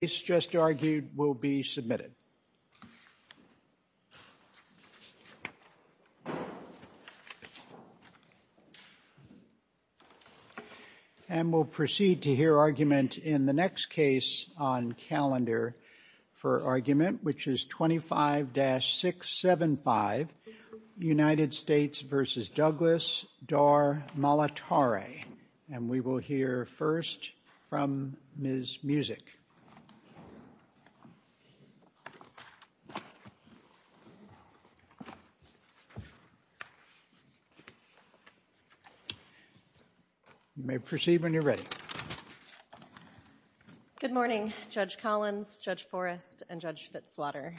The case just argued will be submitted. And we'll proceed to hear argument in the next case on calendar for argument, which is 25-675, United States v. Douglas, Dar Malatare. And we will hear first from Ms. Musick. You may proceed when you're ready. Good morning, Judge Collins, Judge Forrest, and Judge Fitzwater.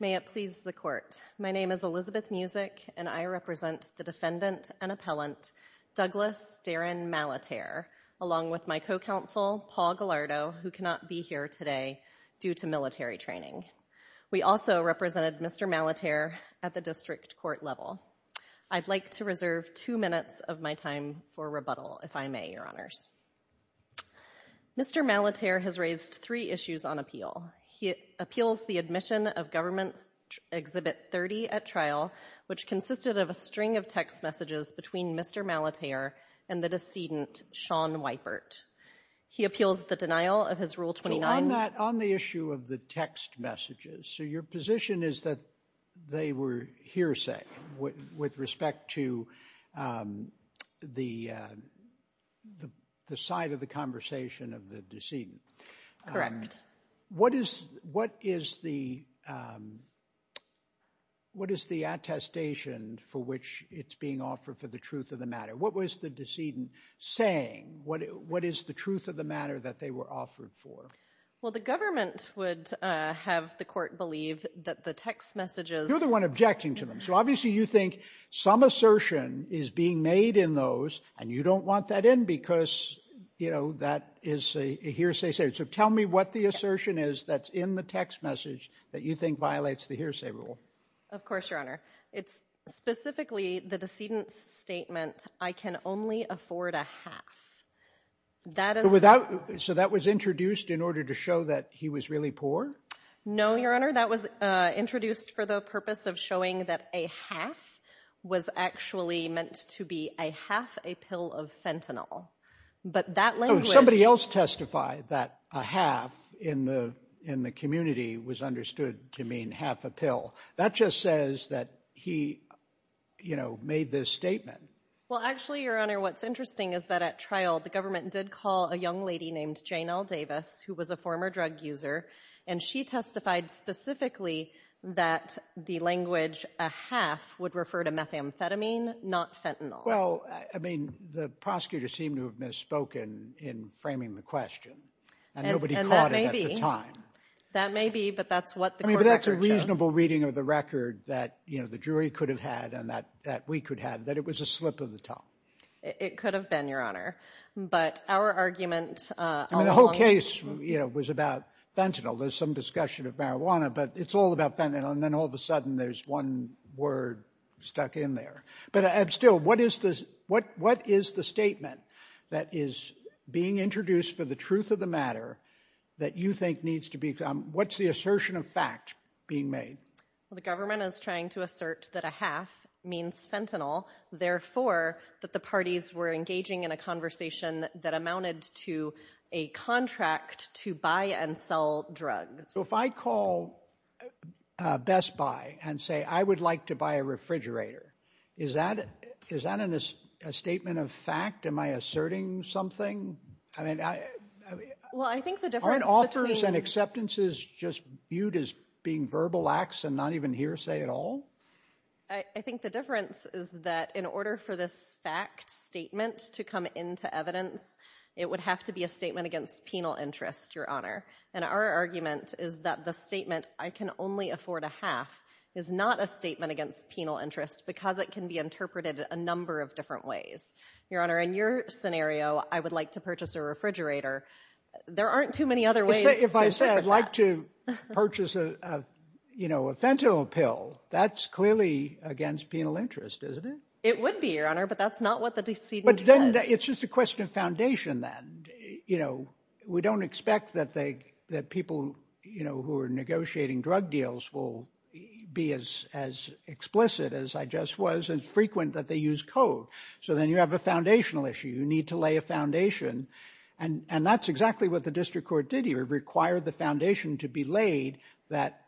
May it please the court, my name is Elizabeth Musick, and I represent the defendant and appellant, Douglas Darin Malatare, along with my co-counsel, Paul Gallardo, who cannot be here today due to military training. We also represented Mr. Malatare at the district court level. I'd like to reserve two minutes of my time for rebuttal, if I may, Your Honors. Mr. Malatare has raised three issues on appeal. He appeals the admission of Government Exhibit 30 at trial, which consisted of a string of text messages between Mr. Malatare and the decedent, Sean Weypert. He appeals the denial of his Rule 29. On the issue of the text messages, so your position is that they were hearsay with respect to the side of the conversation of the decedent. Correct. What is the attestation for which it's being offered for the truth of the matter? What was the decedent saying? What is the truth of the matter that they were offered for? Well, the government would have the court believe that the text messages... You're the one objecting to them, so obviously you think some assertion is being made in those, and you don't want that in because, you know, that is a hearsay statement. So tell me what the assertion is that's in the text message that you think violates the hearsay rule. Of course, Your Honor. It's specifically the decedent's statement, I can only afford a half. So that was introduced in order to show that he was really poor? No, Your Honor, that was introduced for the purpose of showing that a half was actually meant to be a half a pill of fentanyl. But that language... Somebody else testified that a half in the community was understood to mean half a pill. That just says that he, you know, made this statement. Well, actually, Your Honor, what's interesting is that at trial, the government did call a young lady named Jane L. Davis, who was a former drug user, and she testified specifically that the language a half would refer to methamphetamine, not fentanyl. Well, I mean, the prosecutor seemed to have misspoken in framing the question, and nobody caught it at the time. That may be, but that's what the court record shows. I mean, but that's a reasonable reading of the record that, you know, the jury could have had and that we could have had, that it was a slip of the tongue. It could have been, Your Honor. But our argument... I mean, the whole case, you know, was about fentanyl, there's some discussion of marijuana, but it's all about fentanyl. And then all of a sudden, there's one word stuck in there. But still, what is the statement that is being introduced for the truth of the matter that you think needs to be... What's the assertion of fact being made? The government is trying to assert that a half means fentanyl, therefore, that the parties were engaging in a conversation that amounted to a contract to buy and sell drugs. So if I call Best Buy and say, I would like to buy a refrigerator, is that a statement of fact? Am I asserting something? I mean, aren't offers and acceptances just viewed as being verbal acts and not even hearsay at all? I think the difference is that in order for this fact statement to come into evidence, it would have to be a statement against penal interest, Your Honor. And our argument is that the statement, I can only afford a half, is not a statement against penal interest because it can be interpreted a number of different ways. Your Honor, in your scenario, I would like to purchase a refrigerator. There aren't too many other ways to interpret that. If I say I'd like to purchase a fentanyl pill, that's clearly against penal interest, isn't it? It would be, Your Honor, but that's not what the decedent said. It's just a question of foundation then. You know, we don't expect that people who are negotiating drug deals will be as explicit as I just was and frequent that they use code. So then you have a foundational issue. You need to lay a foundation. And that's exactly what the district court did here, require the foundation to be laid that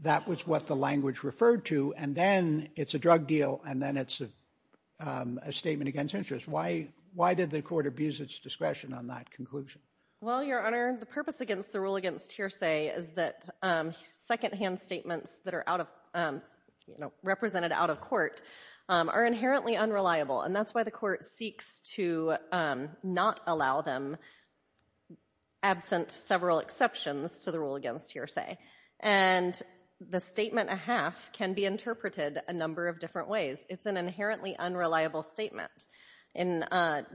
that was what the language referred to. And then it's a drug deal, and then it's a statement against interest. Why did the court abuse its discretion on that conclusion? Well, Your Honor, the purpose against the rule against hearsay is that secondhand statements that are represented out of court are inherently unreliable. And that's why the court seeks to not allow them, absent several exceptions to the rule against hearsay. And the statement, a half, can be interpreted a number of different ways. It's an inherently unreliable statement.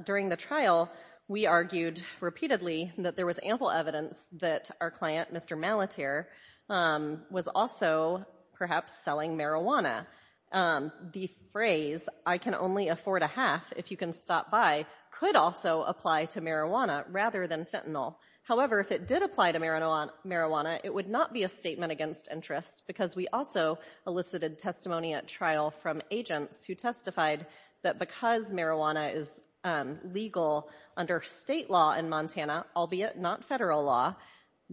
During the trial, we argued repeatedly that there was ample evidence that our client, Mr. Malaterre, was also perhaps selling marijuana. The phrase, I can only afford a half if you can stop by, could also apply to marijuana rather than fentanyl. However, if it did apply to marijuana, it would not be a statement against interest because we also elicited testimony at trial from agents who testified that because marijuana is legal under state law in Montana, albeit not federal law,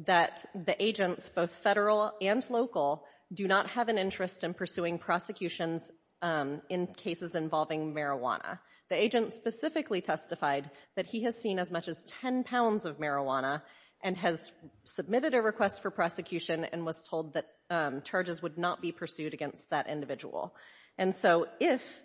that the agents, both federal and local, do not have an interest in pursuing prosecutions in cases involving marijuana. The agent specifically testified that he has seen as much as 10 pounds of marijuana and has submitted a request for prosecution and was told that charges would not be pursued against that individual. And so if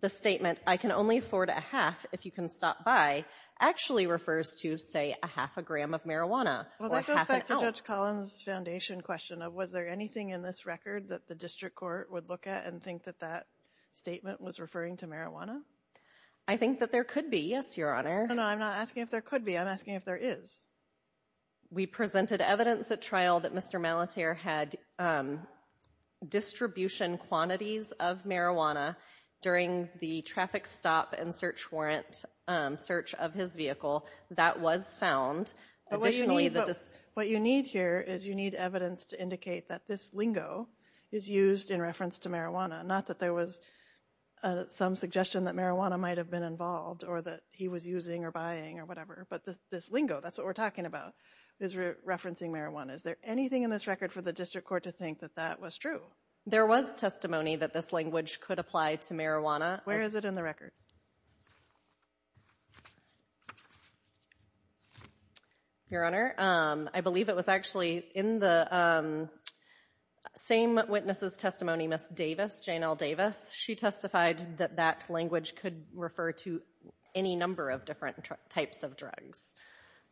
the statement, I can only afford a half if you can stop by, actually refers to, say, a half a gram of marijuana or half an ounce. Well, that goes back to Judge Collins' foundation question of, was there anything in this record that the district court would look at and think that that statement was referring to I think that there could be, yes, Your Honor. No, no, I'm not asking if there could be. I'm asking if there is. We presented evidence at trial that Mr. Malaterre had distribution quantities of marijuana during the traffic stop and search warrant search of his vehicle. That was found. But what you need here is you need evidence to indicate that this lingo is used in reference to marijuana, not that there was some suggestion that marijuana might have been involved or that he was using or buying or whatever. But this lingo, that's what we're talking about, is referencing marijuana. Is there anything in this record for the district court to think that that was true? There was testimony that this language could apply to marijuana. Where is it in the record? Your Honor, I believe it was actually in the same witness's testimony, Ms. Davis, Janelle Davis. She testified that that language could refer to any number of different types of drugs.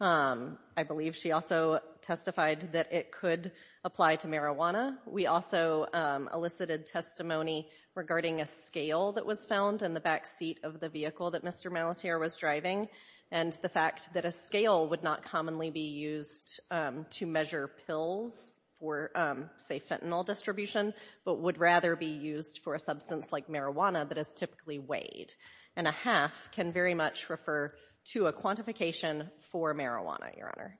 I believe she also testified that it could apply to marijuana. We also elicited testimony regarding a scale that was found in the backseat of the vehicle that Mr. Malaterre was driving and the fact that a scale would not commonly be used to measure pills for, say, fentanyl distribution, but would rather be used for a substance like marijuana that is typically weighed. And a half can very much refer to a quantification for marijuana, Your Honor.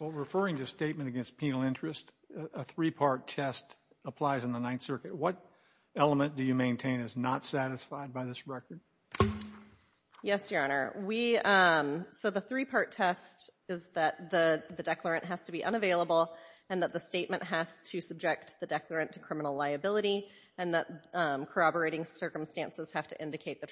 Well, referring to a statement against penal interest, a three-part test applies in the Ninth Circuit. What element do you maintain is not satisfied by this record? Yes, Your Honor. So the three-part test is that the declarant has to be unavailable and that the statement has to subject the declarant to criminal liability and that corroborating circumstances have to indicate the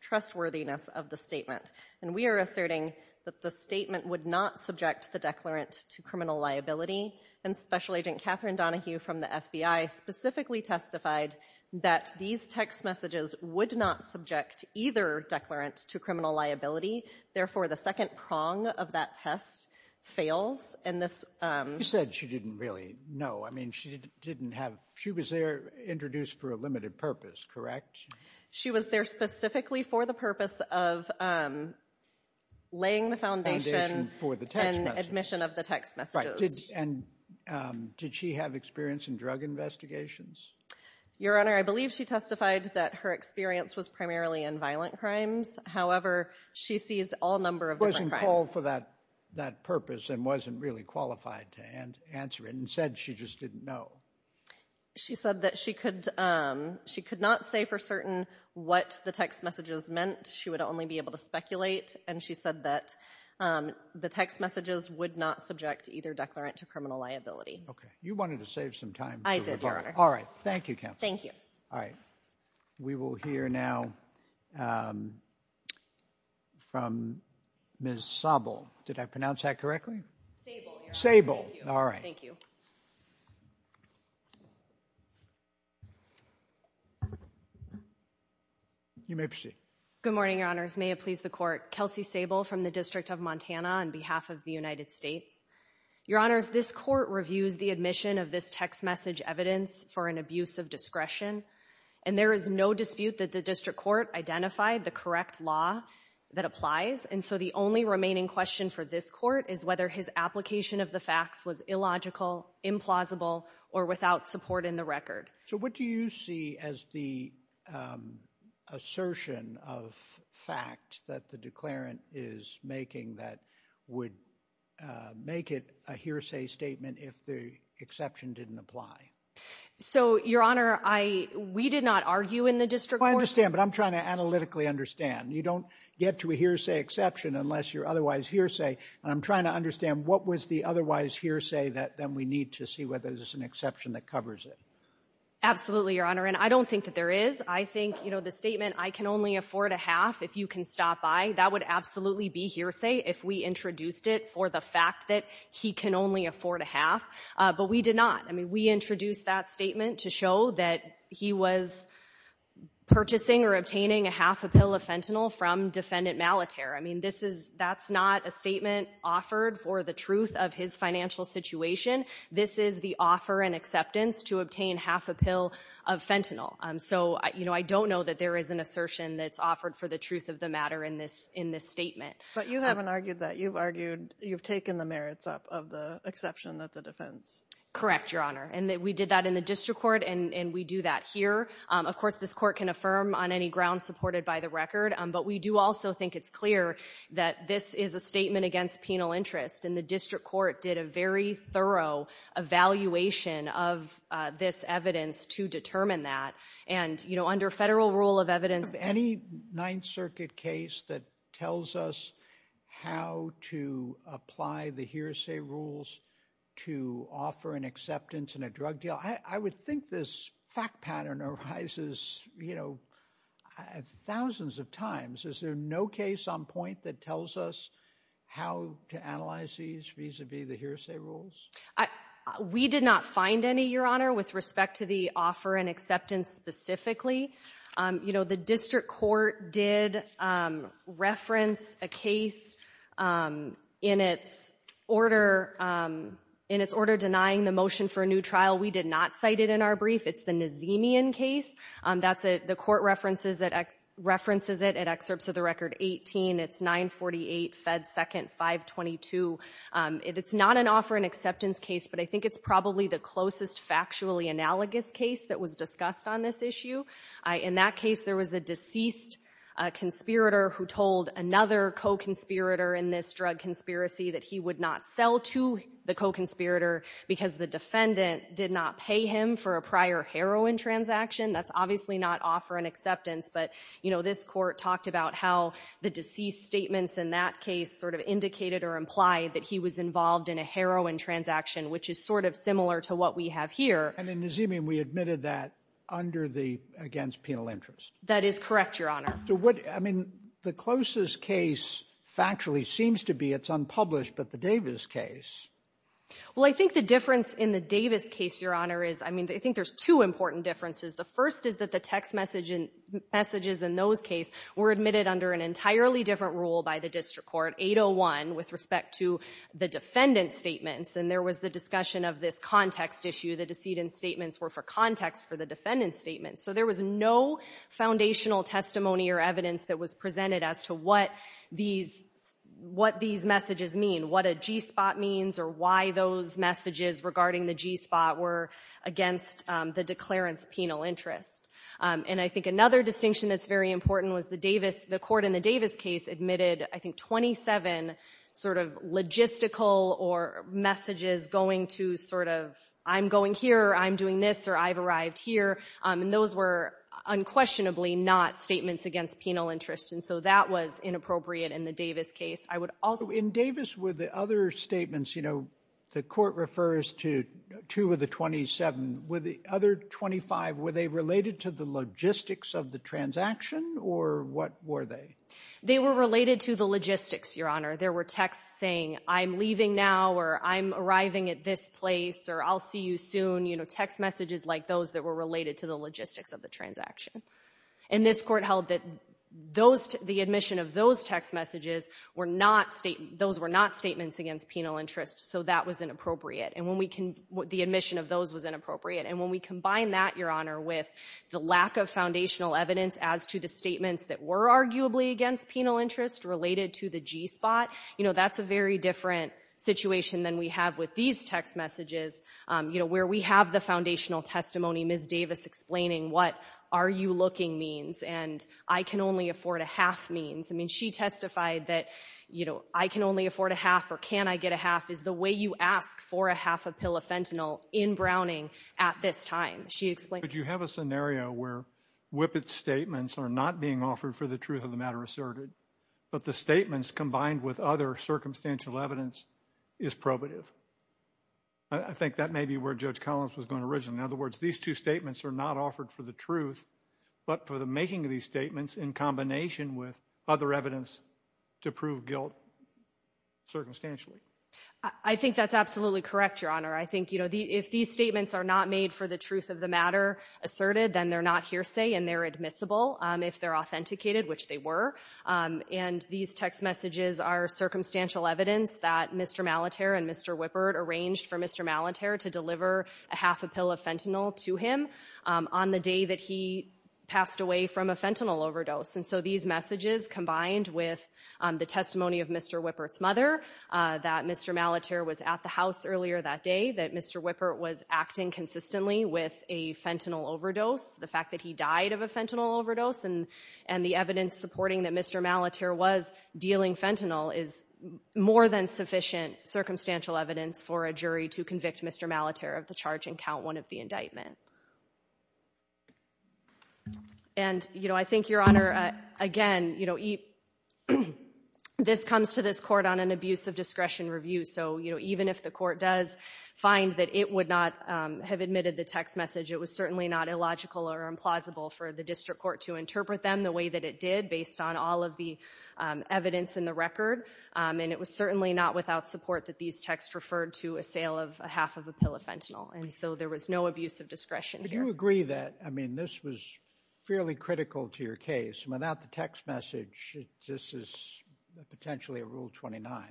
trustworthiness of the statement. And we are asserting that the statement would not subject the declarant to criminal liability and Special Agent Catherine Donahue from the FBI specifically testified that these text messages would not subject either declarant to criminal liability. Therefore, the second prong of that test fails. And this... You said she didn't really know. I mean, she didn't have... She was there introduced for a limited purpose, correct? She was there specifically for the purpose of laying the foundation and admission of the text messages. And did she have experience in drug investigations? Your Honor, I believe she testified that her experience was primarily in violent crimes. However, she sees all number of different crimes. Wasn't called for that purpose and wasn't really qualified to answer it and said she just didn't know. She said that she could not say for certain what the text messages meant. She would only be able to speculate. And she said that the text messages would not subject either declarant to criminal liability. Okay. You wanted to save some time. I did, Your Honor. All right. Thank you, Counsel. Thank you. All right. We will hear now from Ms. Sable. Did I pronounce that correctly? Sable, Your Honor. Sable. Thank you. All right. Thank you. You may proceed. Good morning, Your Honors. May it please the Court. Kelsey Sable from the District of Montana on behalf of the United States. Your Honors, this Court reviews the admission of this text message evidence for an abuse of discretion. And there is no dispute that the District Court identified the correct law that applies. And so the only remaining question for this Court is whether his application of the facts was illogical, implausible, or without support in the record. So what do you see as the assertion of fact that the declarant is making that would make it a hearsay statement if the exception didn't apply? So Your Honor, we did not argue in the District Court. I understand. But I'm trying to analytically understand. You don't get to a hearsay exception unless you're otherwise hearsay. And I'm trying to understand what was the otherwise hearsay that then we need to see whether there's an exception that covers it. Absolutely, Your Honor. And I don't think that there is. I think, you know, the statement, I can only afford a half if you can stop by, that would absolutely be hearsay if we introduced it for the fact that he can only afford a half. But we did not. I mean, we introduced that statement to show that he was purchasing or obtaining a half a pill of fentanyl from defendant Malaterre. I mean, this is, that's not a statement offered for the truth of his financial situation. This is the offer and acceptance to obtain half a pill of fentanyl. So, you know, I don't know that there is an assertion that's offered for the truth of the matter in this statement. But you haven't argued that. You've argued, you've taken the merits up of the exception that the defense. Correct, Your Honor. And we did that in the District Court, and we do that here. Of course, this Court can affirm on any grounds supported by the record. But we do also think it's clear that this is a statement against penal interest, and the District Court did a very thorough evaluation of this evidence to determine that. And you know, under federal rule of evidence. Any Ninth Circuit case that tells us how to apply the hearsay rules to offer an acceptance in a drug deal, I would think this fact pattern arises, you know, thousands of times. Is there no case on point that tells us how to analyze these vis-a-vis the hearsay rules? We did not find any, Your Honor, with respect to the offer and acceptance specifically. You know, the District Court did reference a case in its order denying the motion for a new trial. We did not cite it in our brief. It's the Nazemian case. The Court references it in excerpts of the record 18, it's 948 Fed 2nd 522. It's not an offer and acceptance case, but I think it's probably the closest factually analogous case that was discussed on this issue. In that case, there was a deceased conspirator who told another co-conspirator in this drug conspiracy that he would not sell to the co-conspirator because the defendant did not pay him for a prior heroin transaction. That's obviously not offer and acceptance, but, you know, this Court talked about how the deceased statements in that case sort of indicated or implied that he was involved in a heroin transaction, which is sort of similar to what we have here. And in Nazemian, we admitted that under the against penal interest. That is correct, Your Honor. So what, I mean, the closest case factually seems to be, it's unpublished, but the Davis case. Well, I think the difference in the Davis case, Your Honor, is, I mean, I think there's two important differences. The first is that the text messages in those cases were admitted under an entirely different rule by the District Court, 801, with respect to the defendant's statements. And there was the discussion of this context issue. The decedent's statements were for context for the defendant's statements. So there was no foundational testimony or evidence that was presented as to what these messages mean, what a G-spot means or why those messages regarding the G-spot were against the declarant's penal interest. And I think another distinction that's very important was the Davis, the Court in the Davis case admitted, I think, 27 sort of logistical or messages going to sort of I'm going here, I'm doing this, or I've arrived here. And those were unquestionably not statements against penal interest. And so that was inappropriate in the Davis case. I would also say the court referred to two of the 27. With the other 25, were they related to the logistics of the transaction, or what were they? They were related to the logistics, Your Honor. There were texts saying, I'm leaving now, or I'm arriving at this place, or I'll see you soon. You know, text messages like those that were related to the logistics of the transaction. And this Court held that the admission of those text messages were not statements against penal interest. So that was inappropriate. And when we can, the admission of those was inappropriate. And when we combine that, Your Honor, with the lack of foundational evidence as to the statements that were arguably against penal interest related to the G-spot, you know, that's a very different situation than we have with these text messages, you know, where we have the foundational testimony, Ms. Davis explaining what are you looking means and I can only afford a half means. I mean, she testified that, you know, I can only afford a half or can I get a half is the way you ask for a half a pill of fentanyl in Browning at this time. She explained- But you have a scenario where Whippet's statements are not being offered for the truth of the matter asserted, but the statements combined with other circumstantial evidence is probative. I think that may be where Judge Collins was going originally. In other words, these two statements are not offered for the truth, but for the making of these statements in combination with other evidence to prove guilt circumstantially. I think that's absolutely correct, Your Honor. I think, you know, if these statements are not made for the truth of the matter asserted, then they're not hearsay and they're admissible if they're authenticated, which they were. And these text messages are circumstantial evidence that Mr. Malaterre and Mr. Whippet arranged for Mr. Malaterre to deliver a half a pill of fentanyl to him on the day that he passed away from a fentanyl overdose. And so these messages combined with the testimony of Mr. Whippet's mother, that Mr. Malaterre was at the house earlier that day, that Mr. Whippet was acting consistently with a fentanyl overdose, the fact that he died of a fentanyl overdose, and the evidence supporting that Mr. Malaterre was dealing fentanyl is more than sufficient circumstantial evidence for a jury to convict Mr. Malaterre of the charge and count one of the indictment. And, you know, I think, Your Honor, again, you know, this comes to this court on an abuse of discretion review. So, you know, even if the court does find that it would not have admitted the text message, it was certainly not illogical or implausible for the district court to interpret them the way that it did based on all of the evidence in the record. And it was certainly not without support that these texts referred to a sale of a half of a pill of fentanyl. And so there was no abuse of discretion here. Do you agree that, I mean, this was fairly critical to your case. Without the text message, this is potentially a Rule 29.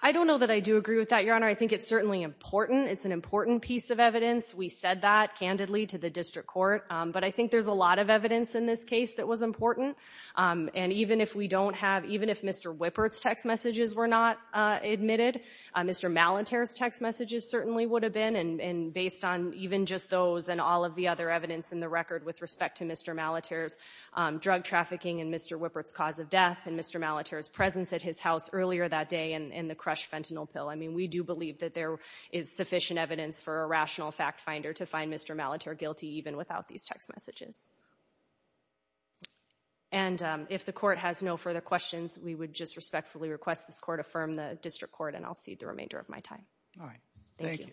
I don't know that I do agree with that, Your Honor. I think it's certainly important. It's an important piece of evidence. We said that candidly to the district court. But I think there's a lot of evidence in this case that was important. And even if we don't have, even if Mr. Whippet's text messages were not admitted, Mr. Malaterre's text messages certainly would have been. And based on even just those and all of the other evidence in the record with respect to Mr. Malaterre's drug trafficking and Mr. Whippet's cause of death and Mr. Malaterre's presence at his house earlier that day and the crushed fentanyl pill, I mean, we do believe that there is sufficient evidence for a rational fact finder to find Mr. Malaterre guilty even without these text messages. And if the court has no further questions, we would just respectfully request this court affirm the district court, and I'll cede the remainder of my time. All right. Thank you.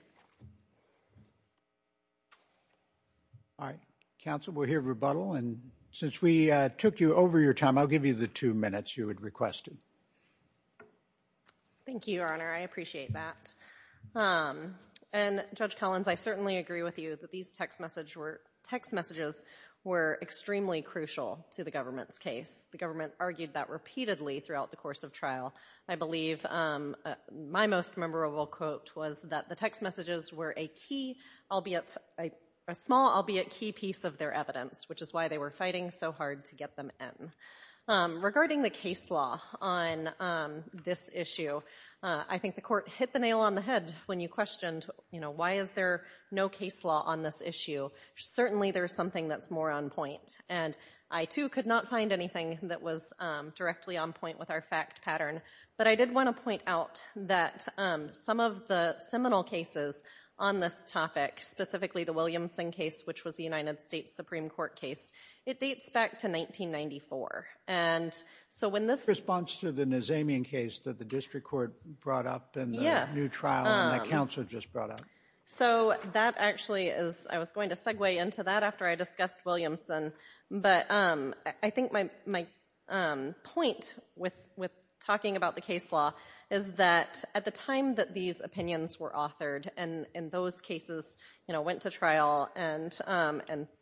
All right. Counsel, we'll hear rebuttal. And since we took you over your time, I'll give you the two minutes you had requested. Thank you, Your Honor. I appreciate that. And Judge Collins, I certainly agree with you that these text messages were extremely crucial to the government's case. The government argued that repeatedly throughout the course of trial. I believe my most memorable quote was that the text messages were a key, albeit a small, albeit key piece of their evidence, which is why they were fighting so hard to get them in. Regarding the case law on this issue, I think the court hit the nail on the head when you questioned, you know, why is there no case law on this issue? Certainly there's something that's more on point. And I, too, could not find anything that was directly on point with our fact pattern, but I did want to point out that some of the seminal cases on this topic, specifically the Williamson case, which was the United States Supreme Court case, it dates back to 1994. And so when this— The response to the Nazamian case that the district court brought up in the new trial that counsel just brought up. So that actually is—I was going to segue into that after I discussed Williamson, but I think my point with talking about the case law is that at the time that these opinions were authored and those cases, you know, went to trial and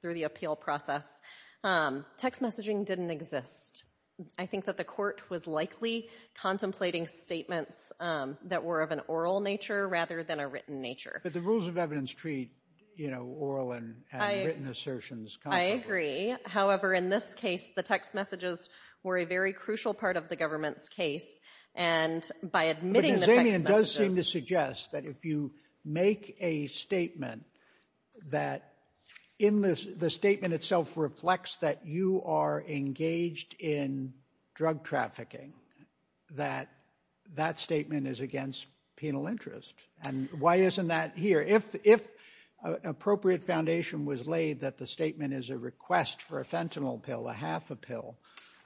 through the appeal process, text messaging didn't exist. I think that the court was likely contemplating statements that were of an oral nature rather than a written nature. But the rules of evidence treat, you know, oral and written assertions— I agree. However, in this case, the text messages were a very crucial part of the government's case. And by admitting the text messages— But Nazamian does seem to suggest that if you make a statement that in this—the statement itself reflects that you are engaged in drug trafficking, that that statement is against penal interest. And why isn't that here? If an appropriate foundation was laid that the statement is a request for a fentanyl pill, a half a pill,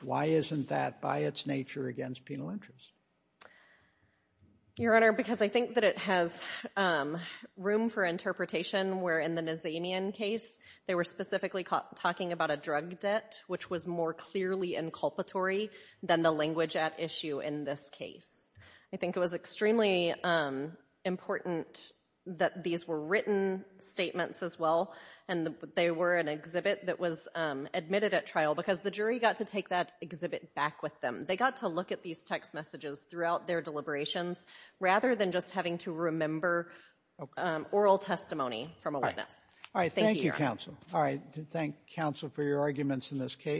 why isn't that by its nature against penal interest? Your Honor, because I think that it has room for interpretation where in the Nazamian case they were specifically talking about a drug debt, which was more clearly inculpatory than the language at issue in this case. I think it was extremely important that these were written statements as well and they were an exhibit that was admitted at trial because the jury got to take that exhibit back with them. They got to look at these text messages throughout their deliberations rather than just having to remember oral testimony from a witness. Thank you, Your Honor. Thank you, counsel. All right. Thank counsel for your arguments in this case.